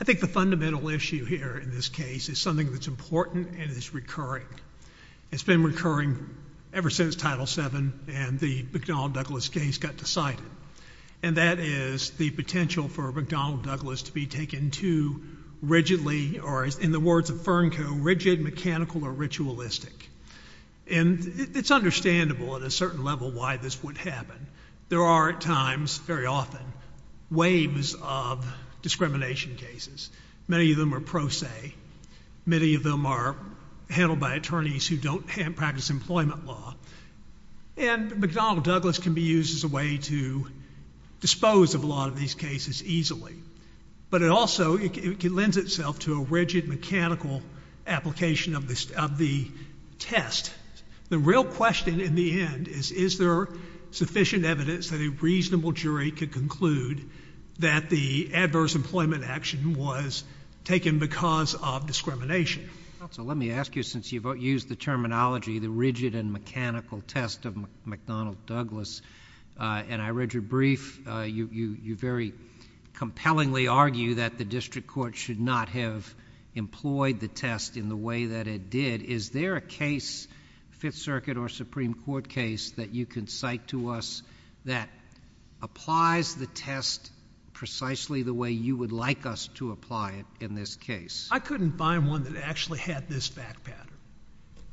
I think the fundamental issue here in this case is something that's important and is recurring. It's been recurring ever since Title VII and the McDonnell-Douglas case got decided. And that is the potential for McDonnell-Douglas to be taken too rigidly, or in the words of Fernco, rigid, mechanical, or ritualistic. And it's understandable at a certain level why this would happen. There are at least often waves of discrimination cases. Many of them are pro se. Many of them are handled by attorneys who don't practice employment law. And McDonnell-Douglas can be used as a way to dispose of a lot of these cases easily. But it also, it lends itself to a rigid, mechanical application of the test. The real question in the end is, is there sufficient evidence that a reasonable jury could conclude that the adverse employment action was taken because of discrimination? JUSTICE SOTOMAYOR. Counsel, let me ask you, since you've used the terminology, the rigid and mechanical test of McDonnell-Douglas, and I read your brief, you very compellingly argue that the district court should not have employed the test in the way that it did. Is there a case, Fifth Circuit or Supreme Court case, that you can cite to us that applies the test precisely the way you would like us to apply it in this case? JUSTICE SCALIA. I couldn't find one that actually had this fact pattern.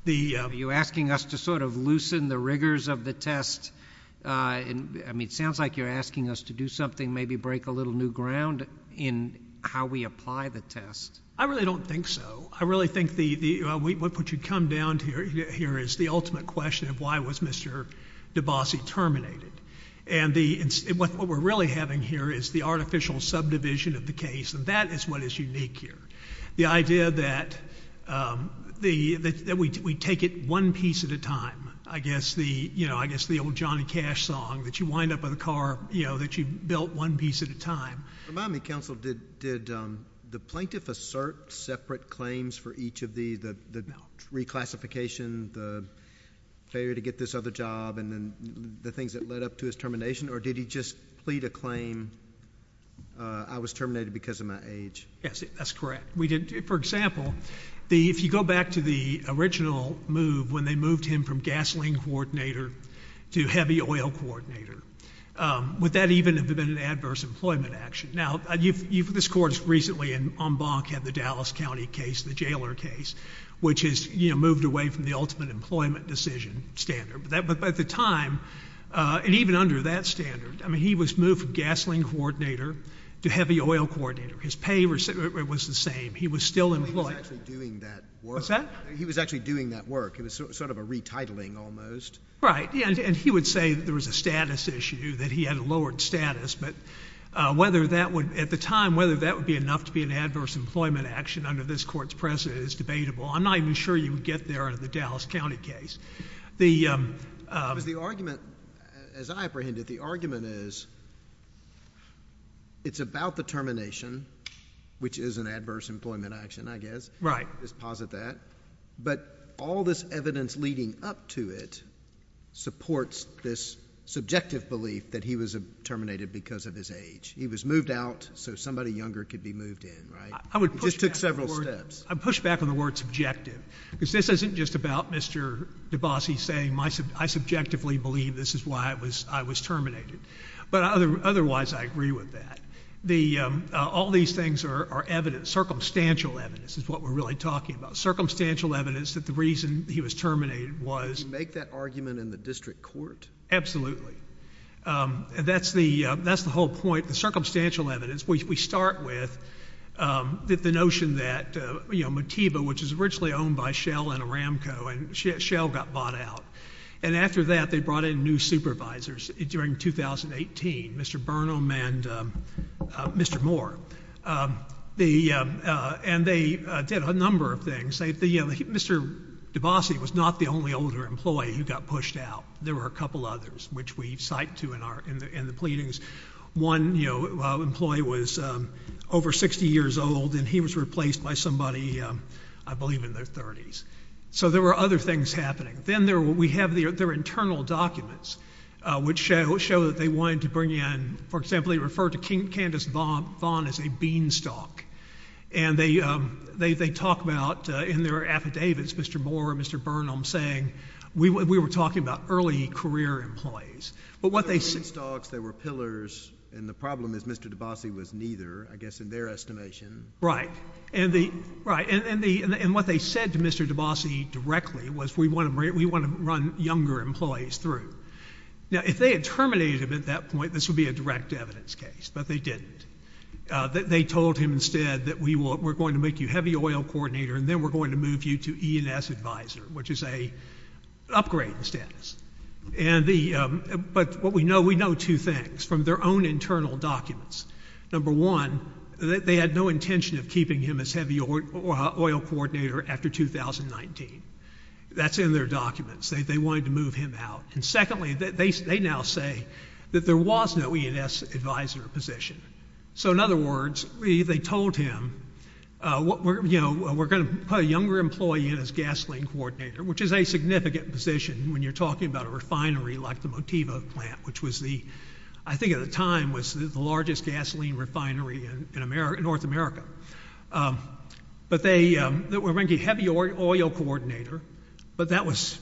The JUSTICE SOTOMAYOR. Are you asking us to sort of loosen the rigors of the test? I mean, it sounds like you're asking us to do something, maybe break a little new ground in how we apply the test. JUSTICE SCALIA. I really don't think so. I really think what you come down to here is the ultimate question of why was Mr. DeBassi terminated. And what we're really having here is the artificial subdivision of the case, and that is what is unique here. The idea that we take it one piece at a time, I guess the old Johnny Cash song, that you wind up with a car that you built one piece at a time. JUSTICE SCALIA. Remind me, counsel, did the plaintiff assert separate claims for each of the reclassification, the failure to get this other job, and then the things that led up to his termination? Or did he just plead a claim, I was terminated because of my age? JUSTICE SCALIA. Yes, that's correct. For example, if you go back to the original move when they moved him from gasoline coordinator to heavy oil coordinator, would that even have been an adverse employment action? Now, this Court recently in Embank had the Dallas County case, the jailer case, which has moved away from the ultimate employment decision standard. But at the time, and even under that standard, I mean, he was moved from gasoline coordinator to heavy oil coordinator. His pay was the same. He was still employed. JUSTICE BREYER. He was actually doing that work. JUSTICE SCALIA. What's that? JUSTICE BREYER. He was actually doing that work. It was sort of a retitling almost. JUSTICE SCALIA. Right. And he would say that there was a status issue, that he had a lowered status. But whether that would, at the time, whether that would be enough to be an adverse employment action under this Court's precedent is debatable. I'm not even sure you would get there in the Dallas County case. JUSTICE BREYER. Because the argument, as I apprehended, the argument is it's about the termination, which is an adverse employment action, I guess. JUSTICE SCALIA. Right. JUSTICE BREYER. I would push back on that. But all this evidence leading up to it supports this subjective belief that he was terminated because of his age. He was moved out so somebody younger could be moved in, right? He just took several steps. JUSTICE SCALIA. I would push back on the word subjective. Because this isn't just about Mr. DeBassi saying, I subjectively believe this is why I was terminated. But otherwise, I agree with that. All these things are evidence, circumstantial evidence is what we're really talking about. Circumstantial evidence that the reason he was terminated was... JUSTICE BREYER. You make that argument in the district court? JUSTICE SCALIA. Absolutely. That's the whole point. The circumstantial evidence. We start with the notion that Motiva, which was originally owned by Shell and Aramco, and Shell got bought out. And after that, they brought in new supervisors during 2018, Mr. Burnham and Mr. Moore. And they did a number of things. Mr. DeBassi was not the only older employee who got pushed out. There were a couple others, which we cite to in the pleadings. One employee was over 60 years old and he was replaced by somebody, I believe, in their 30s. So there were other things happening. Then we have their internal documents, which show that they wanted to bring in... for about... in their affidavits, Mr. Moore and Mr. Burnham saying, we were talking about early career employees. But what they... JUSTICE KENNEDY. They were big stocks. They were pillars. And the problem is Mr. DeBassi was neither, I guess, in their estimation. JUSTICE SCALIA. Right. And what they said to Mr. DeBassi directly was, we want to run younger employees through. Now, if they had terminated him at that point, this would be a direct evidence case. But they didn't. They told him instead that we were going to make you heavy oil coordinator, and then we're going to move you to E&S advisor, which is an upgrade in status. And the... but what we know, we know two things from their own internal documents. Number one, they had no intention of keeping him as heavy oil coordinator after 2019. That's in their documents. They wanted to move him out. And secondly, they now say that there was no E&S advisor position. So in other words, they told him, you know, we're going to put a younger employee in as gasoline coordinator, which is a significant position when you're talking about a refinery like the Motiva plant, which was the... I think at the time was the largest gasoline refinery in North America. But they were going to get heavy oil coordinator, but that was...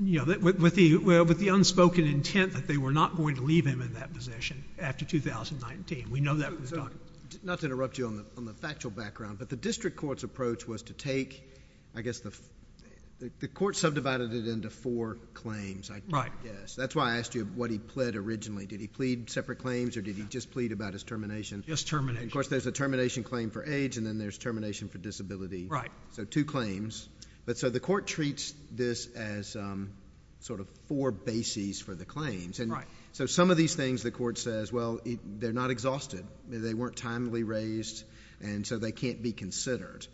you know, with the unspoken intent that they were not going to leave him in that position after 2019. We know that from the documents. So, not to interrupt you on the factual background, but the district court's approach was to take, I guess, the... the court subdivided it into four claims, I guess. Right. That's why I asked you what he pled originally. Did he plead separate claims, or did he just plead about his termination? Just termination. And of course, there's a termination claim for age, and then there's termination for disability. Right. So two claims. But so the court treats this as sort of four bases for the claims. Right. So, some of these things, the court says, well, they're not exhausted. They weren't timely raised, and so they can't be considered.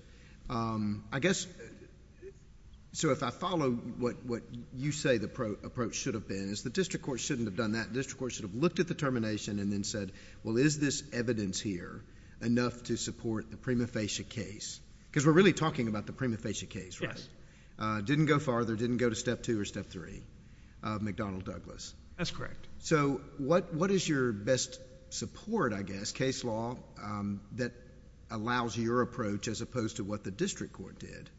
I guess... so if I follow what you say the approach should have been, is the district court shouldn't have done that. The district court should have looked at the termination and then said, well, is this evidence here enough to support the prima facie case? Because we're really talking about the prima facie case, right? Yes. Didn't go farther. Didn't go to step two or step three of McDonnell Douglas. That's correct. So, what is your best support, I guess, case law, that allows your approach as opposed to what the district court did?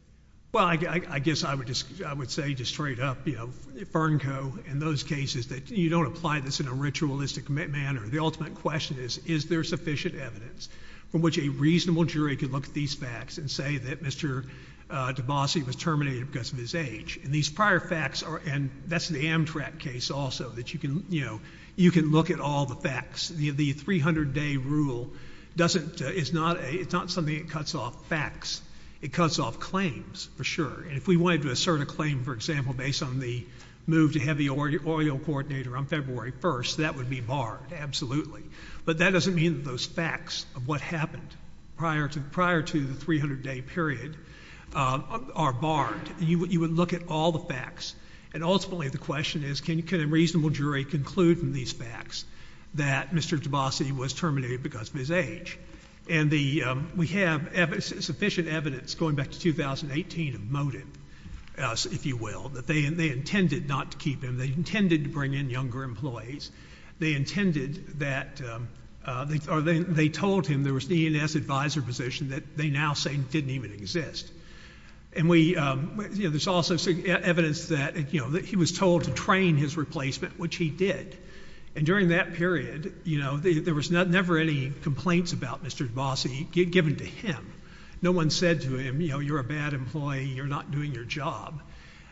Well, I guess I would say just straight up, you know, Fernco, in those cases that you don't apply this in a ritualistic manner. The ultimate question is, is there sufficient evidence from which a reasonable jury could look at these facts and say that Mr. DeBassi was terminated because of his age? And these prior facts are... and that's the Amtrak case also, that you can, you know, you can look at all the facts. The 300-day rule doesn't, it's not a, it's not something that cuts off facts. It cuts off claims, for sure. And if we wanted to assert a claim, for example, based on the move to have the oral coordinator on February 1st, that would be barred, absolutely. But that doesn't mean that those facts of what happened prior to the 300-day period are barred. You would look at all the facts. And ultimately, the question is, can a reasonable jury conclude from these facts that Mr. DeBassi was terminated because of his age? And the, we have sufficient evidence going back to 2018 of motive, if you will, that they intended not to keep him. They intended to bring in younger employees. They intended that, or they told him there was an ENS advisor position that they now say didn't even exist. And we, you know, there's also evidence that, you know, that he was told to train his replacement, which he did. And during that period, you know, there was never any complaints about Mr. DeBassi given to him. No one said to him, you know, you're a bad employee, you're not doing your job.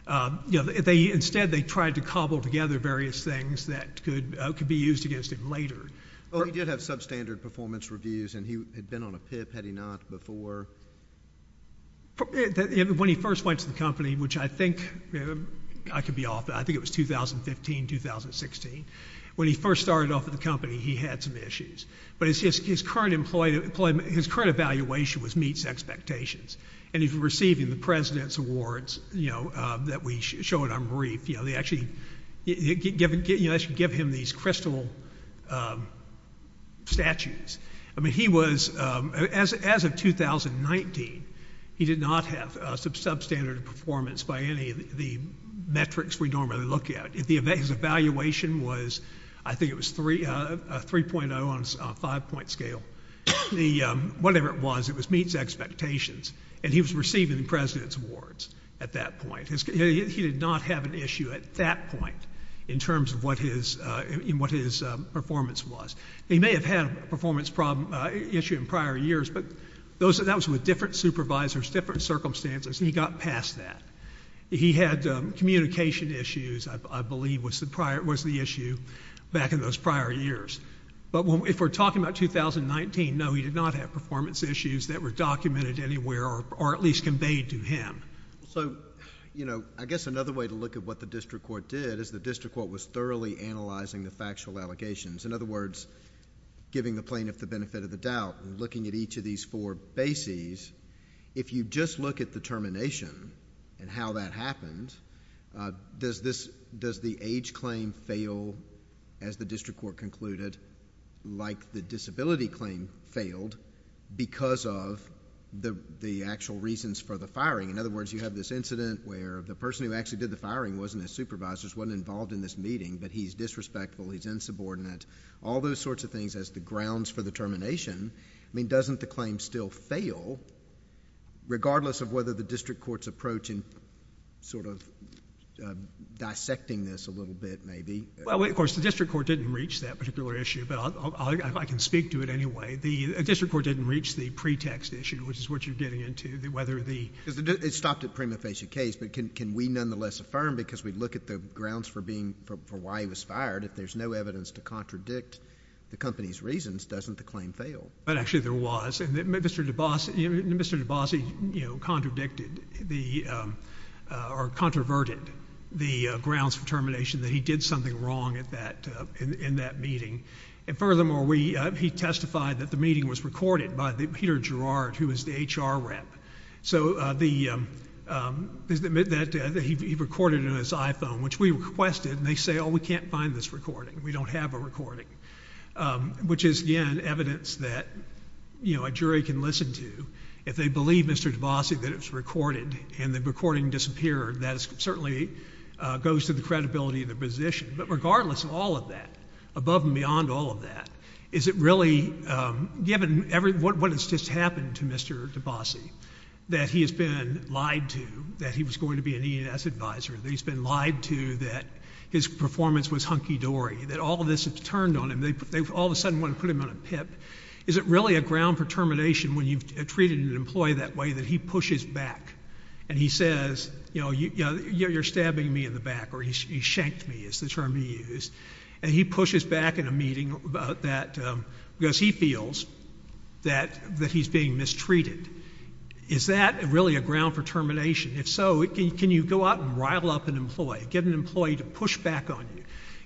You know, they, instead they tried to cobble together various things that could, could be used against him later. Oh, he did have substandard performance reviews, and he had been on a PIP, had he not, before? When he first went to the company, which I think, I could be off, I think it was 2015, 2016, when he first started off at the company, he had some issues. But his current employment, his current evaluation was meets expectations. And he's receiving the president's awards, you know, that we show at Unbrief. You know, they actually give him these crystal statutes. I mean, he was, as, as of 2019, he did not have some substandard performance by any of the metrics we normally look at. If the, his evaluation was, I think it was three, 3.0 on a five point scale. The, whatever it was, it was meets expectations. And he was receiving the president's awards at that point, in terms of what his, in what his performance was. He may have had a performance problem, issue in prior years, but those, that was with different supervisors, different circumstances, and he got past that. He had communication issues, I believe was the prior, was the issue back in those prior years. But if we're talking about 2019, no, he did not have performance issues that were documented anywhere or, or at least conveyed to him. So, you know, I guess another way to look at what the district court did, is the district court was thoroughly analyzing the factual allegations. In other words, giving the plaintiff the benefit of the doubt, looking at each of these four bases. If you just look at the termination and how that happened, does this, does the age claim fail, as the district court concluded, like the disability claim failed, because of the, the actual reasons for the firing? In other words, you have this incident where the person who actually did the firing wasn't his supervisor, wasn't involved in this meeting, but he's disrespectful, he's insubordinate, all those sorts of things as the grounds for the termination. I mean, doesn't the claim still fail, regardless of whether the district court's approach in sort of dissecting this a little bit, maybe? Well, of course, the district court didn't reach that particular issue, but I can speak to it anyway. The district court didn't reach the pretext issue, which is what you're getting into, whether the— It stopped at prima facie case, but can we nonetheless affirm, because we look at the grounds for being, for why he was fired, if there's no evidence to contradict the company's reasons, doesn't the claim fail? But actually there was, and Mr. DeBase, you know, Mr. DeBase, you know, contradicted the, or controverted the grounds for termination, that he did something wrong at that, in that meeting, and furthermore, we, he testified that the HR rep, so the, that he recorded it on his iPhone, which we requested, and they say, oh, we can't find this recording, we don't have a recording, which is, again, evidence that, you know, a jury can listen to, if they believe, Mr. DeBase, that it was recorded, and the recording disappeared, that certainly goes to the credibility of the position. But regardless of all of that, above and beyond all of that, is it really, given every, what has just happened to Mr. DeBase, that he has been lied to, that he was going to be an E&S advisor, that he's been lied to, that his performance was hunky-dory, that all of this has turned on him, they all of a sudden want to put him on a pip, is it really a ground for termination when you've treated an employee that way, that he pushes back, and he says, you know, you know, you're stabbing me in the back, or he shanked me, is the term he used, and he pushes back in a meeting about that, because he feels that that he's being mistreated. Is that really a ground for termination? If so, can you go out and rile up an employee, get an employee to push back on you,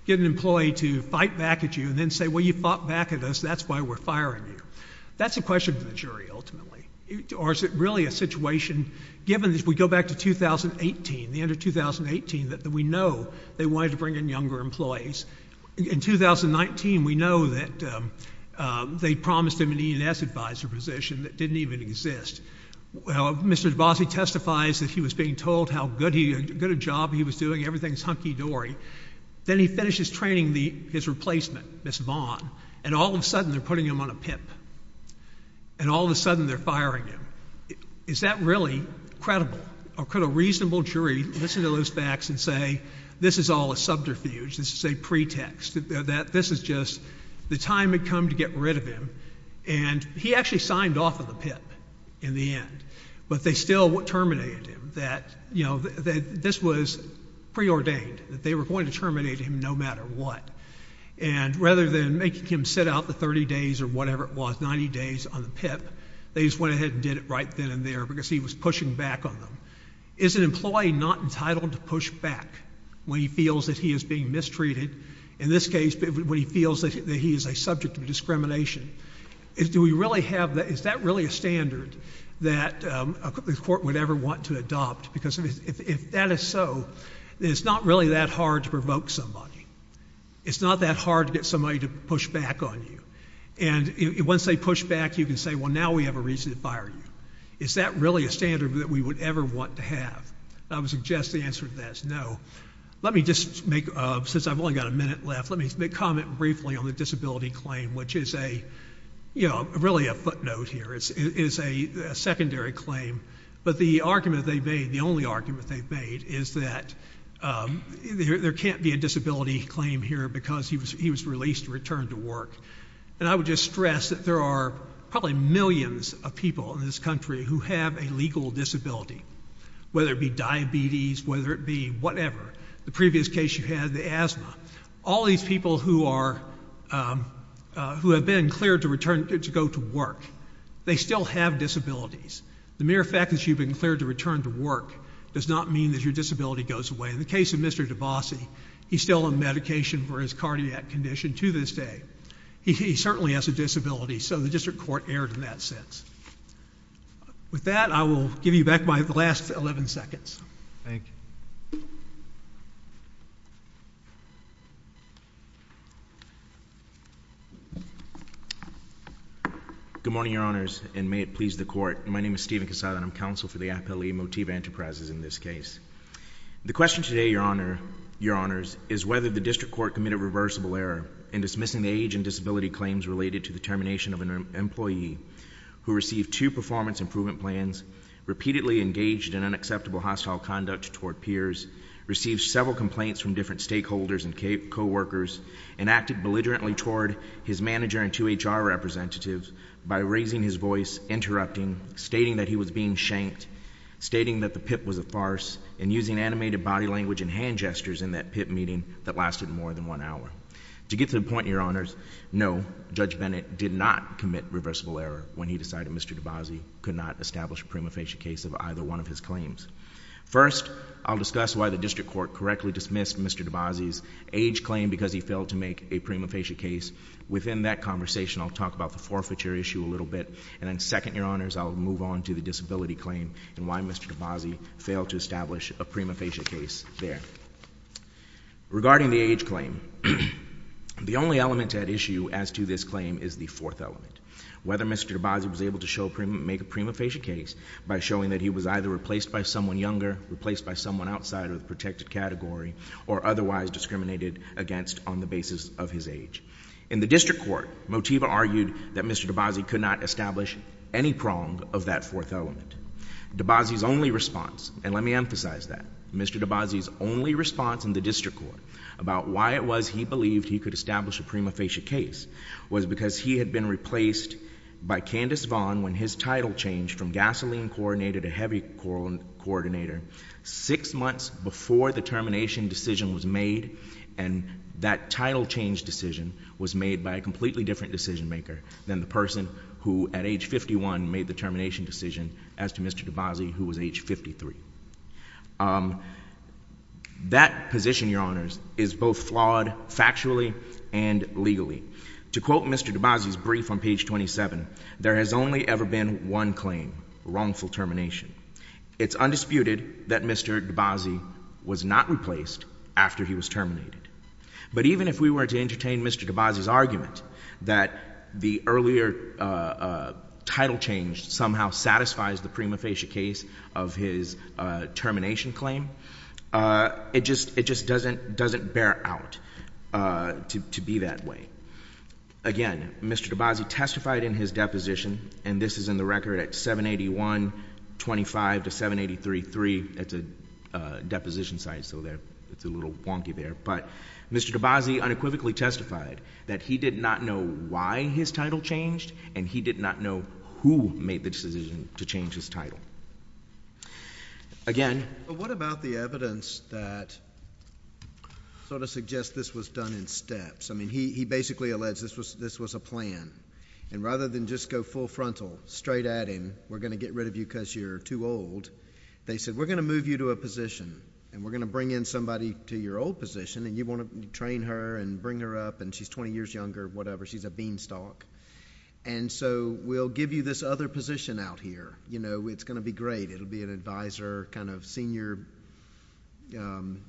get an employee to fight back at you, and then say, well, you fought back at us, that's why we're firing you. That's a question for the jury, ultimately. Or is it really a situation, given that we go back to 2018, the end of 2018, that we know they wanted to bring in younger employees. In 2019, we know that they promised him an E&S advisor position that didn't even exist. Well, Mr. DeBasi testifies that he was being told how good a job he was doing, everything's hunky-dory. Then he finishes training his replacement, Ms. Vaughn, and all of a sudden they're putting him on a pip, and all of a sudden they're firing him. Is that really credible? Could a reasonable jury listen to those facts and say, this is all a subterfuge, this is a pretext, that this is just the time had come to get rid of him, and he actually signed off on the pip in the end, but they still terminated him, that, you know, that this was preordained, that they were going to terminate him no matter what, and rather than making him sit out the 30 days or whatever it was, 90 days on the pip, they just went ahead and did it right then and there because he was pushing back on them. Is an employee not entitled to push back when he feels that he is being mistreated? In this case, when he feels that he is a subject of discrimination, do we really have that, is that really a standard that a court would ever want to adopt? Because if that is so, then it's not really that hard to provoke somebody. It's not that hard to get somebody to push back on you, and once they push back, you can say, well, now we have a reason to fire you. Is that really a standard that we would ever want to have? I would suggest the answer to that is no. Let me just make, since I've only got a minute left, let me comment briefly on the disability claim, which is a, you know, really a footnote here. It is a secondary claim, but the argument they've made, the only argument they've made, is that there can't be a disability claim here because he was released, returned to work, and I would just stress that there are probably millions of people in this country who have a legal disability, whether it be diabetes, whether it be whatever, the previous case you had, the asthma, all these people who have been cleared to return to go to work, they still have disabilities. The mere fact that you've been cleared to return to work does not mean that your disability goes away. In the case of Mr. DeBasi, he's still on medication for his cardiac condition to this day. He certainly has a disability, so the district court erred in that sense. With that, I will give you back my last 11 seconds. Thank you. Good morning, Your Honors, and may it please the Court. My name is Stephen Casada, and I'm counsel for the Appellee Motive Enterprises in this case. The question today, Your Honors, is whether the district court committed reversible error in dismissing the age and disability claims related to the termination of an employee who received two performance improvement plans, repeatedly engaged in unacceptable hostile conduct toward peers, received several complaints from different stakeholders and co-workers, and acted belligerently toward his manager and two HR representatives by raising his voice, interrupting, stating that he was being shanked, stating that the PIP was a farce, and using animated body language and hand gestures in that PIP meeting that lasted more than one hour. To get to the point, Your Honors, no, Judge Bennett did not commit reversible error when he decided Mr. DeBasi could not establish a prima facie case of either one of his claims. First, I'll discuss why the district court correctly dismissed Mr. DeBasi's age claim because he failed to make a prima facie case. Within that conversation, I'll talk about the forfeiture issue a little bit, and then second, Your Honors, I'll move on to the disability claim and why Mr. DeBasi failed to establish a prima facie case there. Regarding the age claim, the only element at issue as to this claim is the fourth element. Whether Mr. DeBasi was able to show, make a prima facie case by showing that he was either replaced by someone younger, replaced by someone outside of the protected category, or otherwise discriminated against on the basis of his age. In the district court, Motiva argued that Mr. DeBasi could not establish any prong of that fourth element. DeBasi's only response, and let me emphasize that, Mr. DeBasi's only response in the district court about why it was he believed he could establish a prima facie case was because he had been replaced by Candace Vaughn when his title changed from gasoline coordinator to heavy coordinator six months before the termination decision was made, and that title change decision was made by a completely different decision maker than the person who, at age 51, made the termination decision as to Mr. DeBasi, who was age 53. That position, Your Honors, is both flawed factually and legally. To quote Mr. DeBasi's brief on one claim, wrongful termination, it's undisputed that Mr. DeBasi was not replaced after he was terminated. But even if we were to entertain Mr. DeBasi's argument that the earlier title change somehow satisfies the prima facie case of his termination claim, it just doesn't bear out to be that way. Again, Mr. DeBasi testified in his deposition, and this is in the record at 781.25 to 783.3. It's a deposition site, so it's a little wonky there. But Mr. DeBasi unequivocally testified that he did not know why his title changed, and he did not know who made the decision to change his title. Again ---- JUSTICE SCALIA. But what about the evidence that sort of suggests this was done in steps? I mean, he basically alleged this was a plan. And rather than just go full frontal, straight at him, we're going to get rid of you because you're too old, they said, we're going to move you to a position, and we're going to bring in somebody to your old position, and you want to train her and bring her up, and she's 20 years younger, whatever, she's a beanstalk. And so we'll give you this other position out here. You know, it's going to be great. It'll be an advisor, kind of senior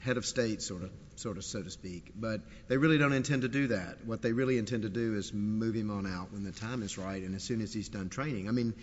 head of state, sort of, so to speak. But they really don't intend to do that. What they really intend to do is move him on out when the time is right and as soon as he's done training. I mean,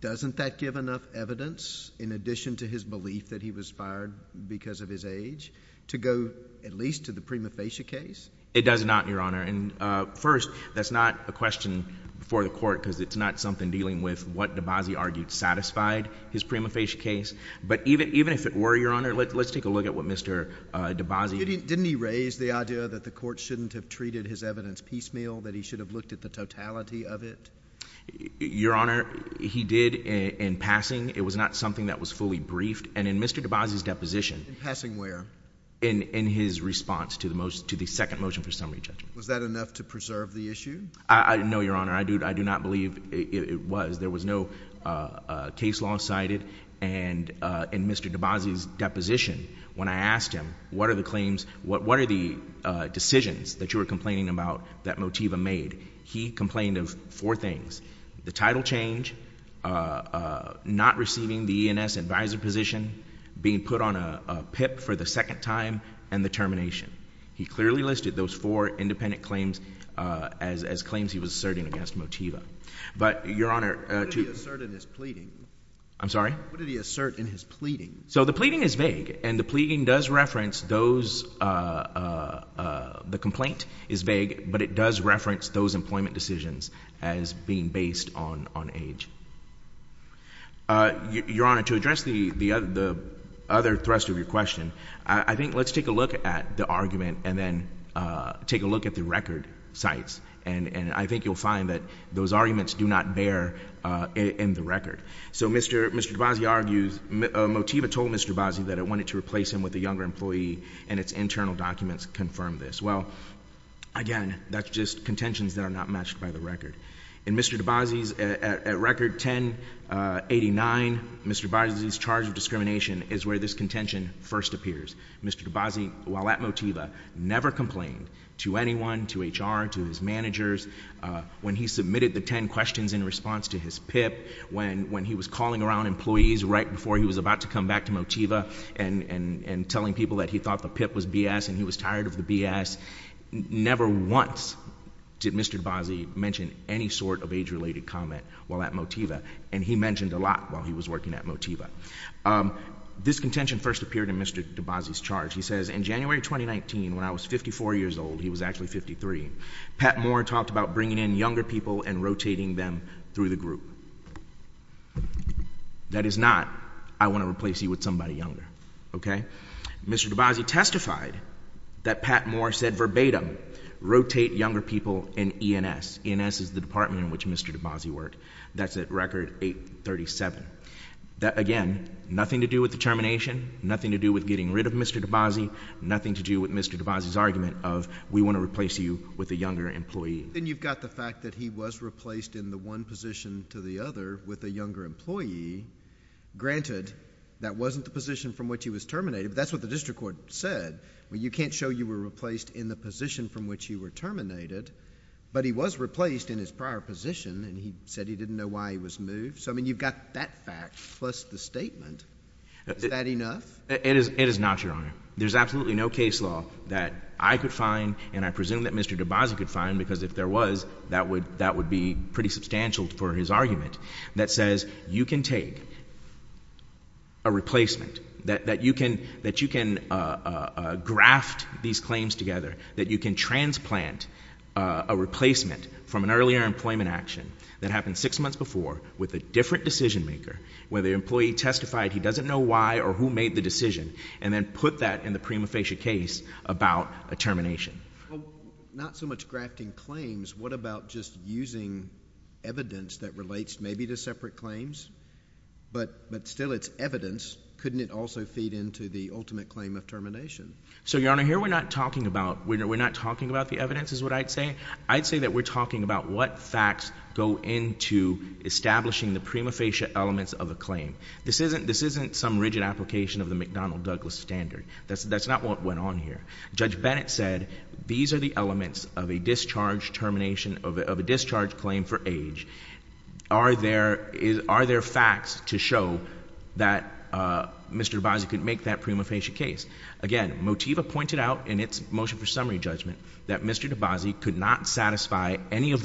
doesn't that give enough evidence, in addition to his belief that he was fired because of his age, to go at least to the prima facie case? MR. WHITE. It does not, Your Honor. And first, that's not a question for the Court because it's not something dealing with what DeBasi argued satisfied his prima facie case. But even if it were, Your Honor, let's take a look at what Mr. DeBasi— JUSTICE SCALIA. Didn't he raise the idea that the Court shouldn't have treated his evidence piecemeal, that he should have looked at the totality of it? MR. WHITE. Your Honor, he did in passing. It was not something that was fully briefed. And in Mr. DeBasi's deposition— JUSTICE SCALIA. In passing where? MR. WHITE. In his response to the most—to the second motion for summary JUSTICE SCALIA. Was that enough to preserve the issue? MR. WHITE. No, Your Honor. I do not believe it was. There was no case law cited. And in Mr. DeBasi's deposition, when I asked him, what are the claims—what are the decisions that you were complaining about that Motiva made, he complained of four things, the title change, not receiving the E&S advisor position, being put on a PIP for the second time, and the termination. He clearly listed those four independent claims as claims he was asserting against Motiva. But, Your Honor— JUSTICE SCALIA. What did he assert in his pleading? MR. WHITE. I'm sorry? JUSTICE SCALIA. What did he assert in his pleading? MR. WHITE. So the pleading is vague. And the pleading does reference those—the complaint is vague, but it does reference those employment decisions as being based on age. Your Honor, to address the other thrust of your question, I think let's take a look at the argument and then take a look at the record sites. And I think you'll find that those arguments do not bear in the record. So Mr. DeBasi argues—Motiva told Mr. DeBasi that it wanted to replace him with a younger employee, and its internal documents confirm this. Well, again, that's just contentions that are not matched by the record. In Mr. DeBasi's—at Record 1089, Mr. DeBasi's charge of discrimination is where this contention first appears. Mr. DeBasi, while at Motiva, never complained to anyone, to HR, to his managers. When he submitted the 10 questions in response to his PIP, when he was calling around employees right before he was about to come back to Motiva and telling people that he thought the PIP was B.S. and he was tired of the B.S., never once did Mr. DeBasi mention any sort of age-related comment while at Motiva. And he mentioned a lot while he was working at Motiva. This contention first when I was 54 years old. He was actually 53. Pat Moore talked about bringing in younger people and rotating them through the group. That is not, I want to replace you with somebody younger. Okay? Mr. DeBasi testified that Pat Moore said verbatim, rotate younger people in E&S. E&S is the department in which Mr. DeBasi worked. That's at Record 837. Again, nothing to do with the termination, nothing to do with getting rid of Mr. DeBasi, nothing to do with Mr. DeBasi's argument of we want to replace you with a younger employee. Then you've got the fact that he was replaced in the one position to the other with a younger employee. Granted, that wasn't the position from which he was terminated, but that's what the district court said. You can't show you were replaced in the position from which you were terminated, but he was replaced in his prior position and he said he didn't know why he was moved. So, I mean, you've got that fact plus the statement. Is that enough? It is not, Your Honor. There's absolutely no case law that I could find and I presume that Mr. DeBasi could find, because if there was, that would be pretty substantial for his argument, that says you can take a replacement, that you can graft these claims together, that you can transplant a replacement from an earlier employment action that happened six months before with a different decision maker where the employee testified he doesn't know why or who made the decision and then put that in the prima facie case about a termination. Not so much grafting claims, what about just using evidence that relates maybe to separate claims, but still it's evidence. Couldn't it also feed into the ultimate claim of termination? So Your Honor, here we're not talking about the evidence is what I'd say. I'd say that we're talking about what facts go into establishing the prima facie elements of a claim. This isn't some rigid application of the McDonnell-Douglas standard. That's not what went on here. Judge Bennett said these are the elements of a discharge termination, of a discharge claim for age. Are there facts to show that Mr. DeBasi could make that prima facie case? Again, Motiva pointed out in its motion for summary judgment that Mr. DeBasi could not satisfy any of the facts.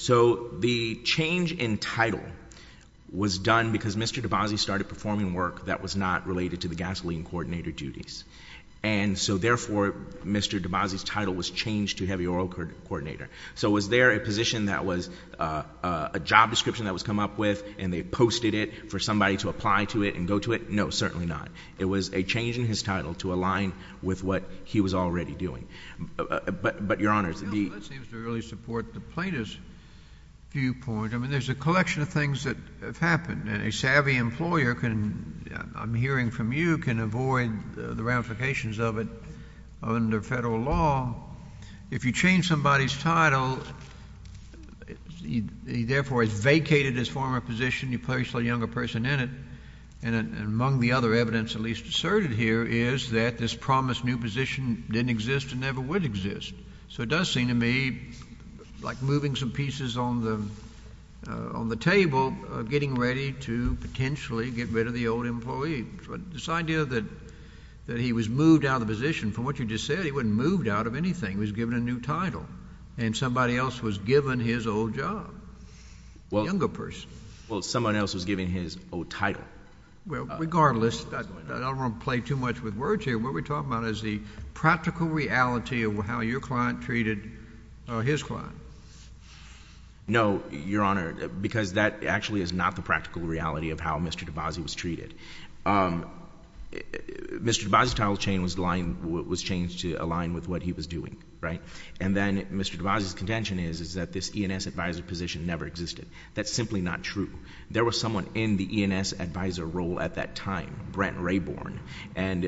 So the change in title was done because Mr. DeBasi started performing work that was not related to the gasoline coordinator duties. And so therefore, Mr. DeBasi's title was changed to heavy oil coordinator. So was there a position that was a job description that was come up with and they posted it for somebody to apply to it and go to it? No, certainly not. It was a change in his title to align with what he was already doing. But Your Honor, the That seems to really support the plaintiff's viewpoint. I mean, there's a collection of things that have happened. And a savvy employer can, I'm hearing from you, can avoid the ramifications of it under Federal law. If you change somebody's title, he therefore has vacated his former position. You place a younger person in it. And among the other evidence at least asserted here is that this promised new position didn't exist and never would exist. So it does seem to me like moving some pieces on the table, getting ready to potentially get rid of the old employee. But this idea that he was moved out of the position, from what you just said, he wasn't moved out of anything. He was given a new title. And somebody else was given his old job, the younger person. Well, someone else was given his old title. Well, regardless, I don't want to play too much with words here. What we're talking about is the practical reality of how your client treated his client. No, Your Honor, because that actually is not the practical reality of how Mr. DeBase was treated. Mr. DeBase's title chain was changed to align with what he was doing, right? And then Mr. DeBase's contention is, is that this E&S advisor position never existed. That's simply not true. There was someone in the E&S advisor role at that time, Brent Rayburn. And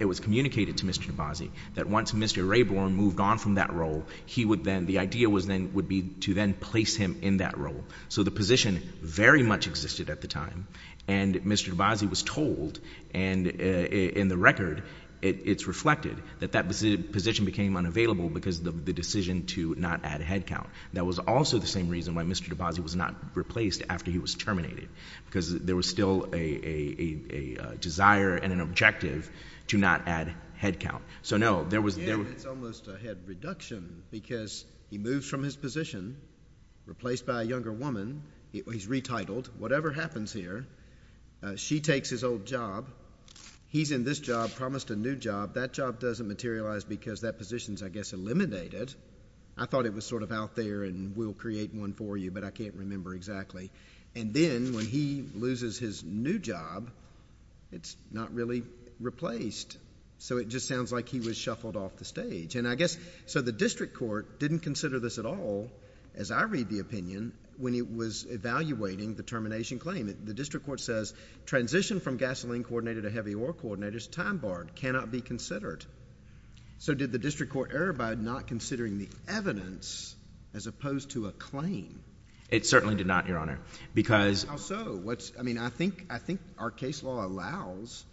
it was communicated to Mr. DeBase that once Mr. Rayburn moved on from that role, he would then, the idea would be to then place him in that role. So the position very much existed at the time. And Mr. DeBase was told, and in the record, it's reflected, that that position became unavailable because of the decision to not add headcount. That was also the same reason why Mr. DeBase was not replaced after he was terminated. Because there was still a desire and an objective to not add headcount. So no, there was, there was... Yeah, it's almost a head reduction because he moves from his position, replaced by a younger woman. He's retitled. Whatever happens here, she takes his old job. He's in this job, promised a new job. That job doesn't materialize because that position's, I guess, eliminated. I thought it was sort of out there and we'll create one for you, but I can't remember exactly. And then when he loses his new job, it's not really replaced. So it just sounds like he was shuffled off the stage. And I guess, so the district court didn't consider this at all, as I read the opinion, when it was evaluating the termination claim. The district court says, transition from gasoline coordinator to heavy ore coordinator is timebarred, cannot be considered. So did the district court err by not considering the evidence as opposed to a claim? It certainly did not, Your Honor, because... I think our case law allows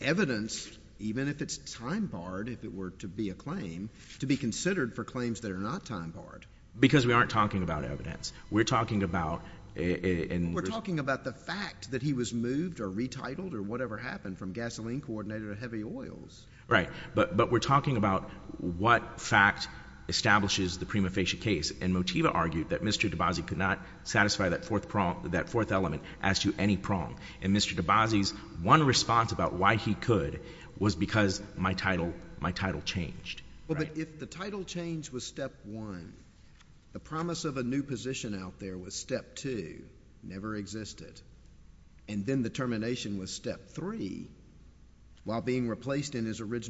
evidence, even if it's time barred, if it were to be a claim, to be considered for claims that are not time barred. Because we aren't talking about evidence. We're talking about... We're talking about the fact that he was moved or retitled or whatever happened from gasoline coordinator to heavy oils. Right. But we're talking about what fact establishes the prima facie case. And Motiva argued that Mr. DeBasi could not satisfy that fourth element as to any prong. And Mr. DeBasi's one response about why he could was because my title changed. Well, but if the title change was step one, the promise of a new position out there was step two, never existed. And then the termination was step three, while being replaced in his case.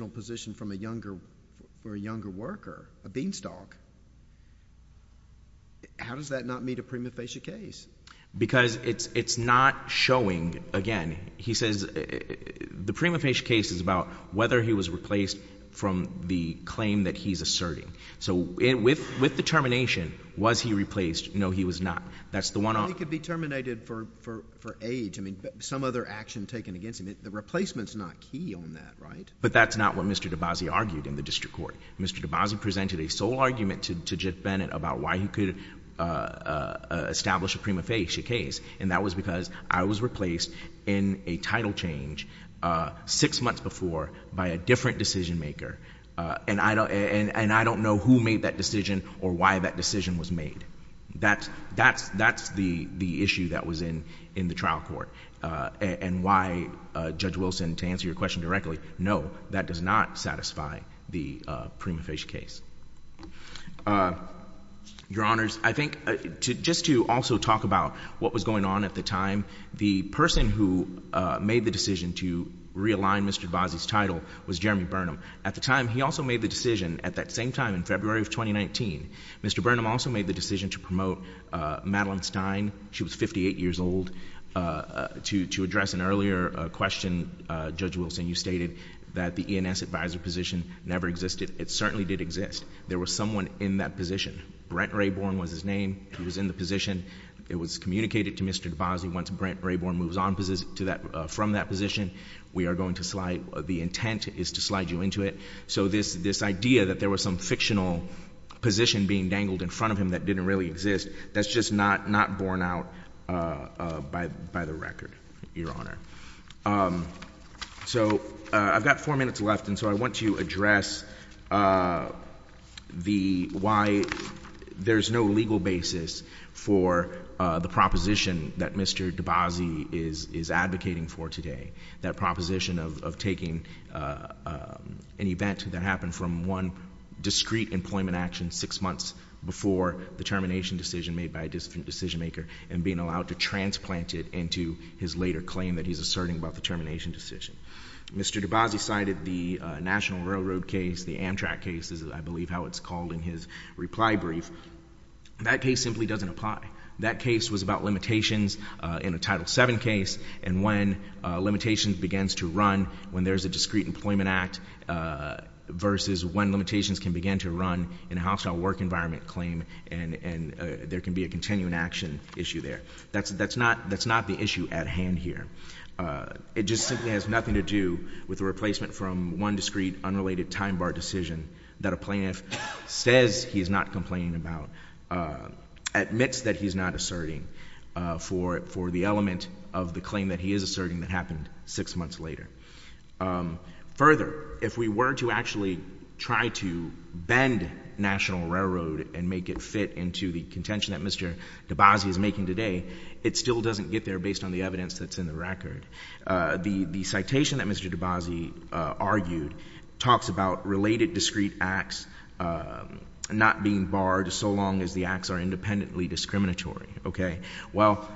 Why does that not meet a prima facie case? Because it's not showing, again, he says the prima facie case is about whether he was replaced from the claim that he's asserting. So with the termination, was he replaced? No, he was not. That's the one... Well, he could be terminated for age. I mean, some other action taken against him. The replacement's not key on that, right? But that's not what Mr. DeBasi argued in the district court. Mr. DeBasi presented a sole argument to Judge Bennett about why he could establish a prima facie case. And that was because I was replaced in a title change six months before by a different decision maker. And I don't know who made that decision or why that decision was made. That's the issue that was in the trial court. And why, Judge Wilson, to answer your question directly, no, that does not satisfy the prima facie case. Your Honors, I think just to also talk about what was going on at the time, the person who made the decision to realign Mr. DeBasi's title was Jeremy Burnham. At the time, he also made the decision at that same time in February of 2019, Mr. Burnham also made the decision to promote Madeline Stein. She was 58 years old. To address an earlier question, Judge Wilson, you stated that the ENS advisor position never existed. It certainly did exist. There was someone in that position. Brent Raybourn was his name. He was in the position. It was communicated to Mr. DeBasi. Once Brent Raybourn moves on from that position, we are going to slide, the intent is to slide you into it. So this idea that there was some fictional position being dangled in front of him that didn't really exist, that's just not borne out by the record, Your Honor. I've got four minutes left. I want to address why there's no legal basis for the proposition that Mr. DeBasi is advocating for today, that proposition of taking an event that happened from one discreet employment action six months before the termination decision made by a he's asserting about the termination decision. Mr. DeBasi cited the National Railroad case, the Amtrak case is, I believe, how it's called in his reply brief. That case simply doesn't apply. That case was about limitations in a Title VII case and when limitations begins to run when there's a discreet employment act versus when limitations can begin to run in a hostile work environment claim and there can be a continuing action issue there. That's not the issue at hand here. It just simply has nothing to do with a replacement from one discreet, unrelated time bar decision that a plaintiff says he's not complaining about, admits that he's not asserting, for the element of the claim that he is asserting that happened six months later. Further, if we were to actually try to bend National Railroad and make it fit into the case that Mr. DeBasi is making today, it still doesn't get there based on the evidence that's in the record. The citation that Mr. DeBasi argued talks about related discreet acts not being barred so long as the acts are independently discriminatory. Well,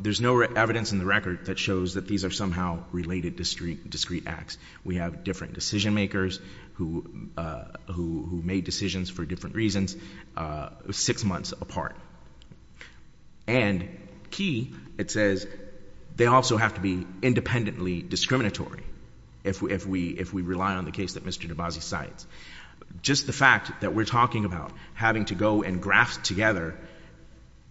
there's no evidence in the record that shows that these are somehow related discreet acts. We have different decision makers who made decisions for different reasons six months apart. And key, it says they also have to be independently discriminatory if we rely on the case that Mr. DeBasi cites. Just the fact that we're talking about having to go and graft together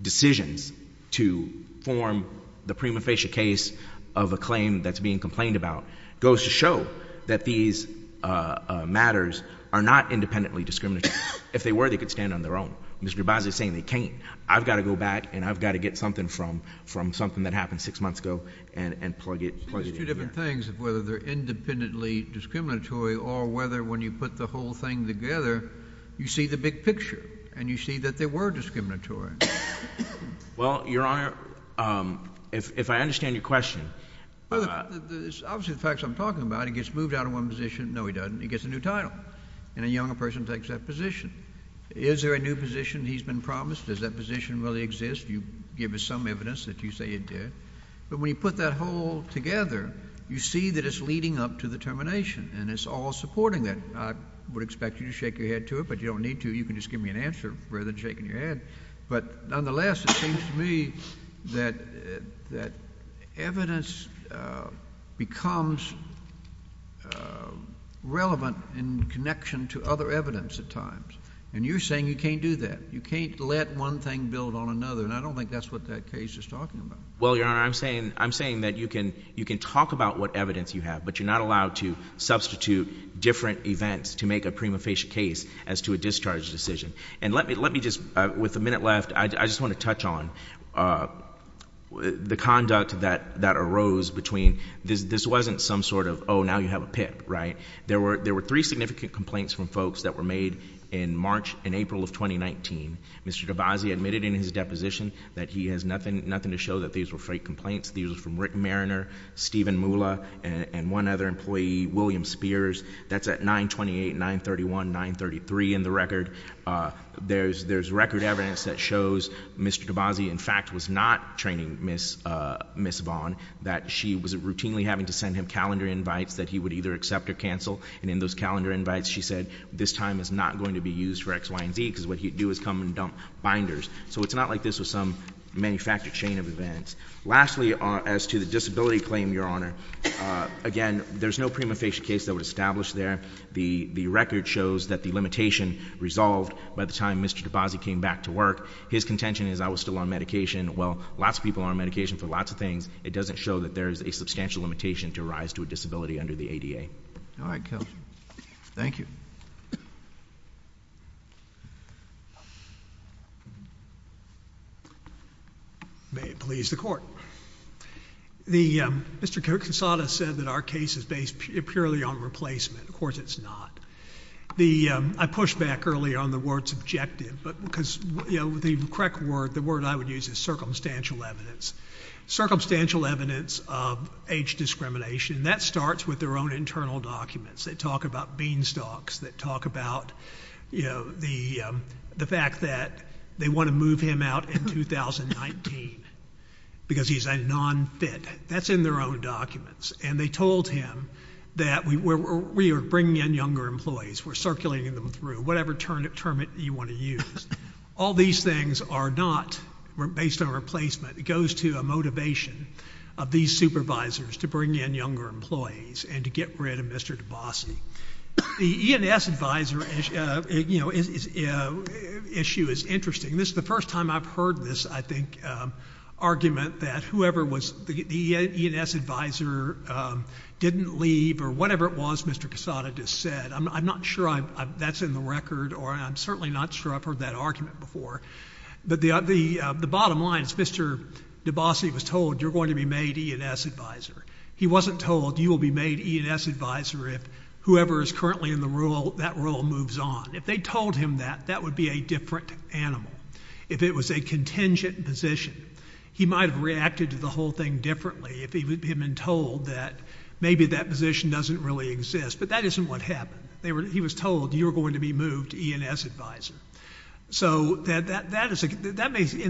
decisions to form the prima facie case of a claim that's being complained about goes to show that these matters are not independently discriminatory. If they were, they could stand on their own. Mr. DeBasi is saying they can't. I've got to go back and I've got to get something from something that happened six months ago and plug it in here. It's two different things of whether they're independently discriminatory or whether when you put the whole thing together, you see the big picture and you see that they were discriminatory. Well, Your Honor, if I understand your question... Obviously, the facts I'm talking about, he gets moved out of one position, no he doesn't, he gets a new title. And a younger person takes that position. Is there a new position he's been promised? Does that position really exist? You give us some evidence that you say it did. But when you put that whole together, you see that it's leading up to the termination and it's all supporting that. I would expect you to shake your head to it, but you don't need to. You can just give me an answer rather than shaking your head. But nonetheless, it seems to me that evidence becomes relevant to the case of a claim that is relevant in connection to other evidence at times. And you're saying you can't do that. You can't let one thing build on another. And I don't think that's what that case is talking about. Well, Your Honor, I'm saying that you can talk about what evidence you have, but you're not allowed to substitute different events to make a prima facie case as to a discharge decision. And let me just, with a minute left, I just want to touch on the conduct that arose between, this wasn't some sort of, oh, now you have a PIP, right? There were three significant complaints from folks that were made in March and April of 2019. Mr. DeBase admitted in his deposition that he has nothing to show that these were fake complaints. These were from Rick Mariner, Steven Mula, and one other employee, William Spears. That's at 928, 931, 933 in the record. There's record evidence that shows Mr. DeBase, in fact, was not training Ms. Vaughn, that she was routinely having to send him calendar invites that he would either accept or cancel. And in those calendar invites, she said, this time is not going to be used for X, Y, and Z, because what he'd do is come and dump binders. So it's not like this was some manufactured chain of events. Lastly, as to the disability claim, Your Honor, again, there's no prima facie case that was established there. The record shows that the limitation resolved by the time Mr. DeBase came back to work. His contention is, I was still on medication. Well, lots of people are on medication for lots of things. It doesn't show that there's a substantial limitation to rise to a disability under the ADA. All right, counsel. Thank you. May it please the Court. Mr. Kinsada said that our case is based purely on replacement. Of course, it's not. I pushed back earlier on the word subjective, because the correct word, the word I would use is circumstantial evidence. Circumstantial evidence of age discrimination, that starts with their own internal documents. They talk about beanstalks, they talk about, you know, the fact that they want to move him out in 2019, because he's a non-fit. That's in their own documents. And they told him that we are bringing in younger employees, we're circulating them through, whatever term you want to use. All these things are not based on replacement. It goes to a motivation of these supervisors to bring in younger employees and to get rid of Mr. DeBase. The E&S advisor issue is interesting. This is the first time I've heard this, I think, argument that whoever was the E&S advisor didn't leave, or whatever it was Mr. Kinsada just said. I'm not sure that's in the record, or I'm certainly not sure I've heard that before. But the bottom line is Mr. DeBase was told, you're going to be made E&S advisor. He wasn't told, you will be made E&S advisor if whoever is currently in that role moves on. If they told him that, that would be a different animal. If it was a contingent position, he might have reacted to the whole thing differently if he would have been told that maybe that position doesn't really exist. But that isn't what happened. He was told, you're going to be moved to E&S advisor. In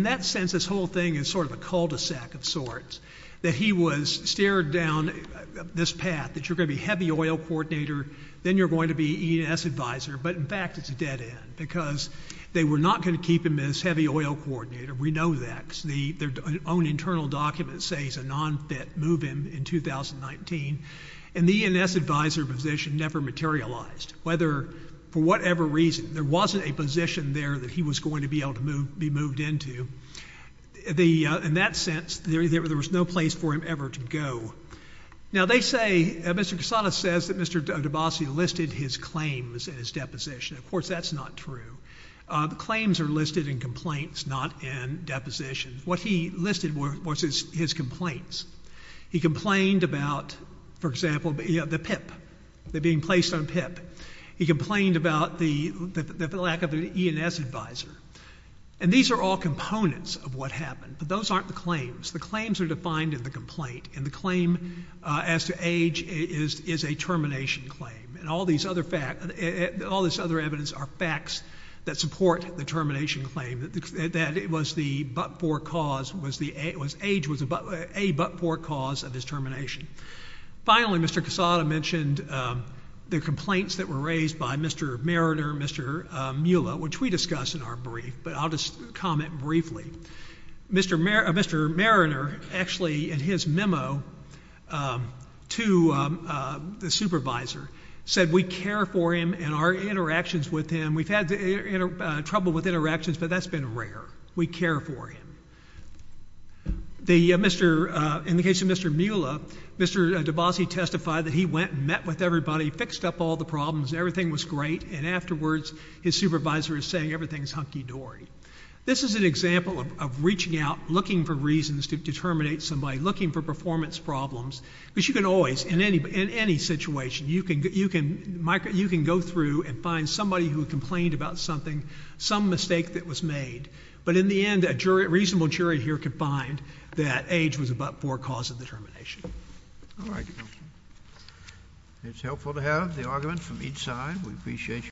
that sense, this whole thing is sort of a cul-de-sac of sorts, that he was steered down this path, that you're going to be heavy oil coordinator, then you're going to be E&S advisor. But in fact, it's a dead end, because they were not going to keep him as heavy oil coordinator. We know that, because their own internal documents say he's a non-fit, move him in 2019. And the E&S advisor position never materialized, whether, for whatever reason, there wasn't a position there that he was going to be able to be moved into. In that sense, there was no place for him ever to go. Now, they say, Mr. Cassata says that Mr. DeBassi listed his claims in his deposition. Of course, that's not true. The claims are listed in complaints, not in depositions. What he listed was his complaints. He complained about, for example, the PIP, the being placed on PIP. He complained about the lack of an E&S advisor. And these are all components of what happened. But those aren't the claims. The claims are defined in the complaint. And the claim as to age is a termination claim. And all this other evidence are facts that support the termination claim, that it was the age was a but for cause of his termination. Finally, Mr. Cassata mentioned the complaints that were raised by Mr. Mariner, Mr. Mueller, which we discussed in our brief, but I'll just comment briefly. Mr. Mariner, actually, in his memo to the supervisor, said, we care for him and our interactions with him. We've had trouble with interactions, but that's been rare. We care for him. In the case of Mr. Mueller, Mr. DeBasi testified that he went and met with everybody, fixed up all the problems, and everything was great. And afterwards, his supervisor is saying everything's hunky-dory. This is an example of reaching out, looking for reasons to determinate somebody, looking for performance problems. Because you can always, in any situation, you can go through and find somebody who complained about something, some mistake that reasonable jury here could find that age was a but for cause of the termination. All right. It's helpful to have the argument from each side. We appreciate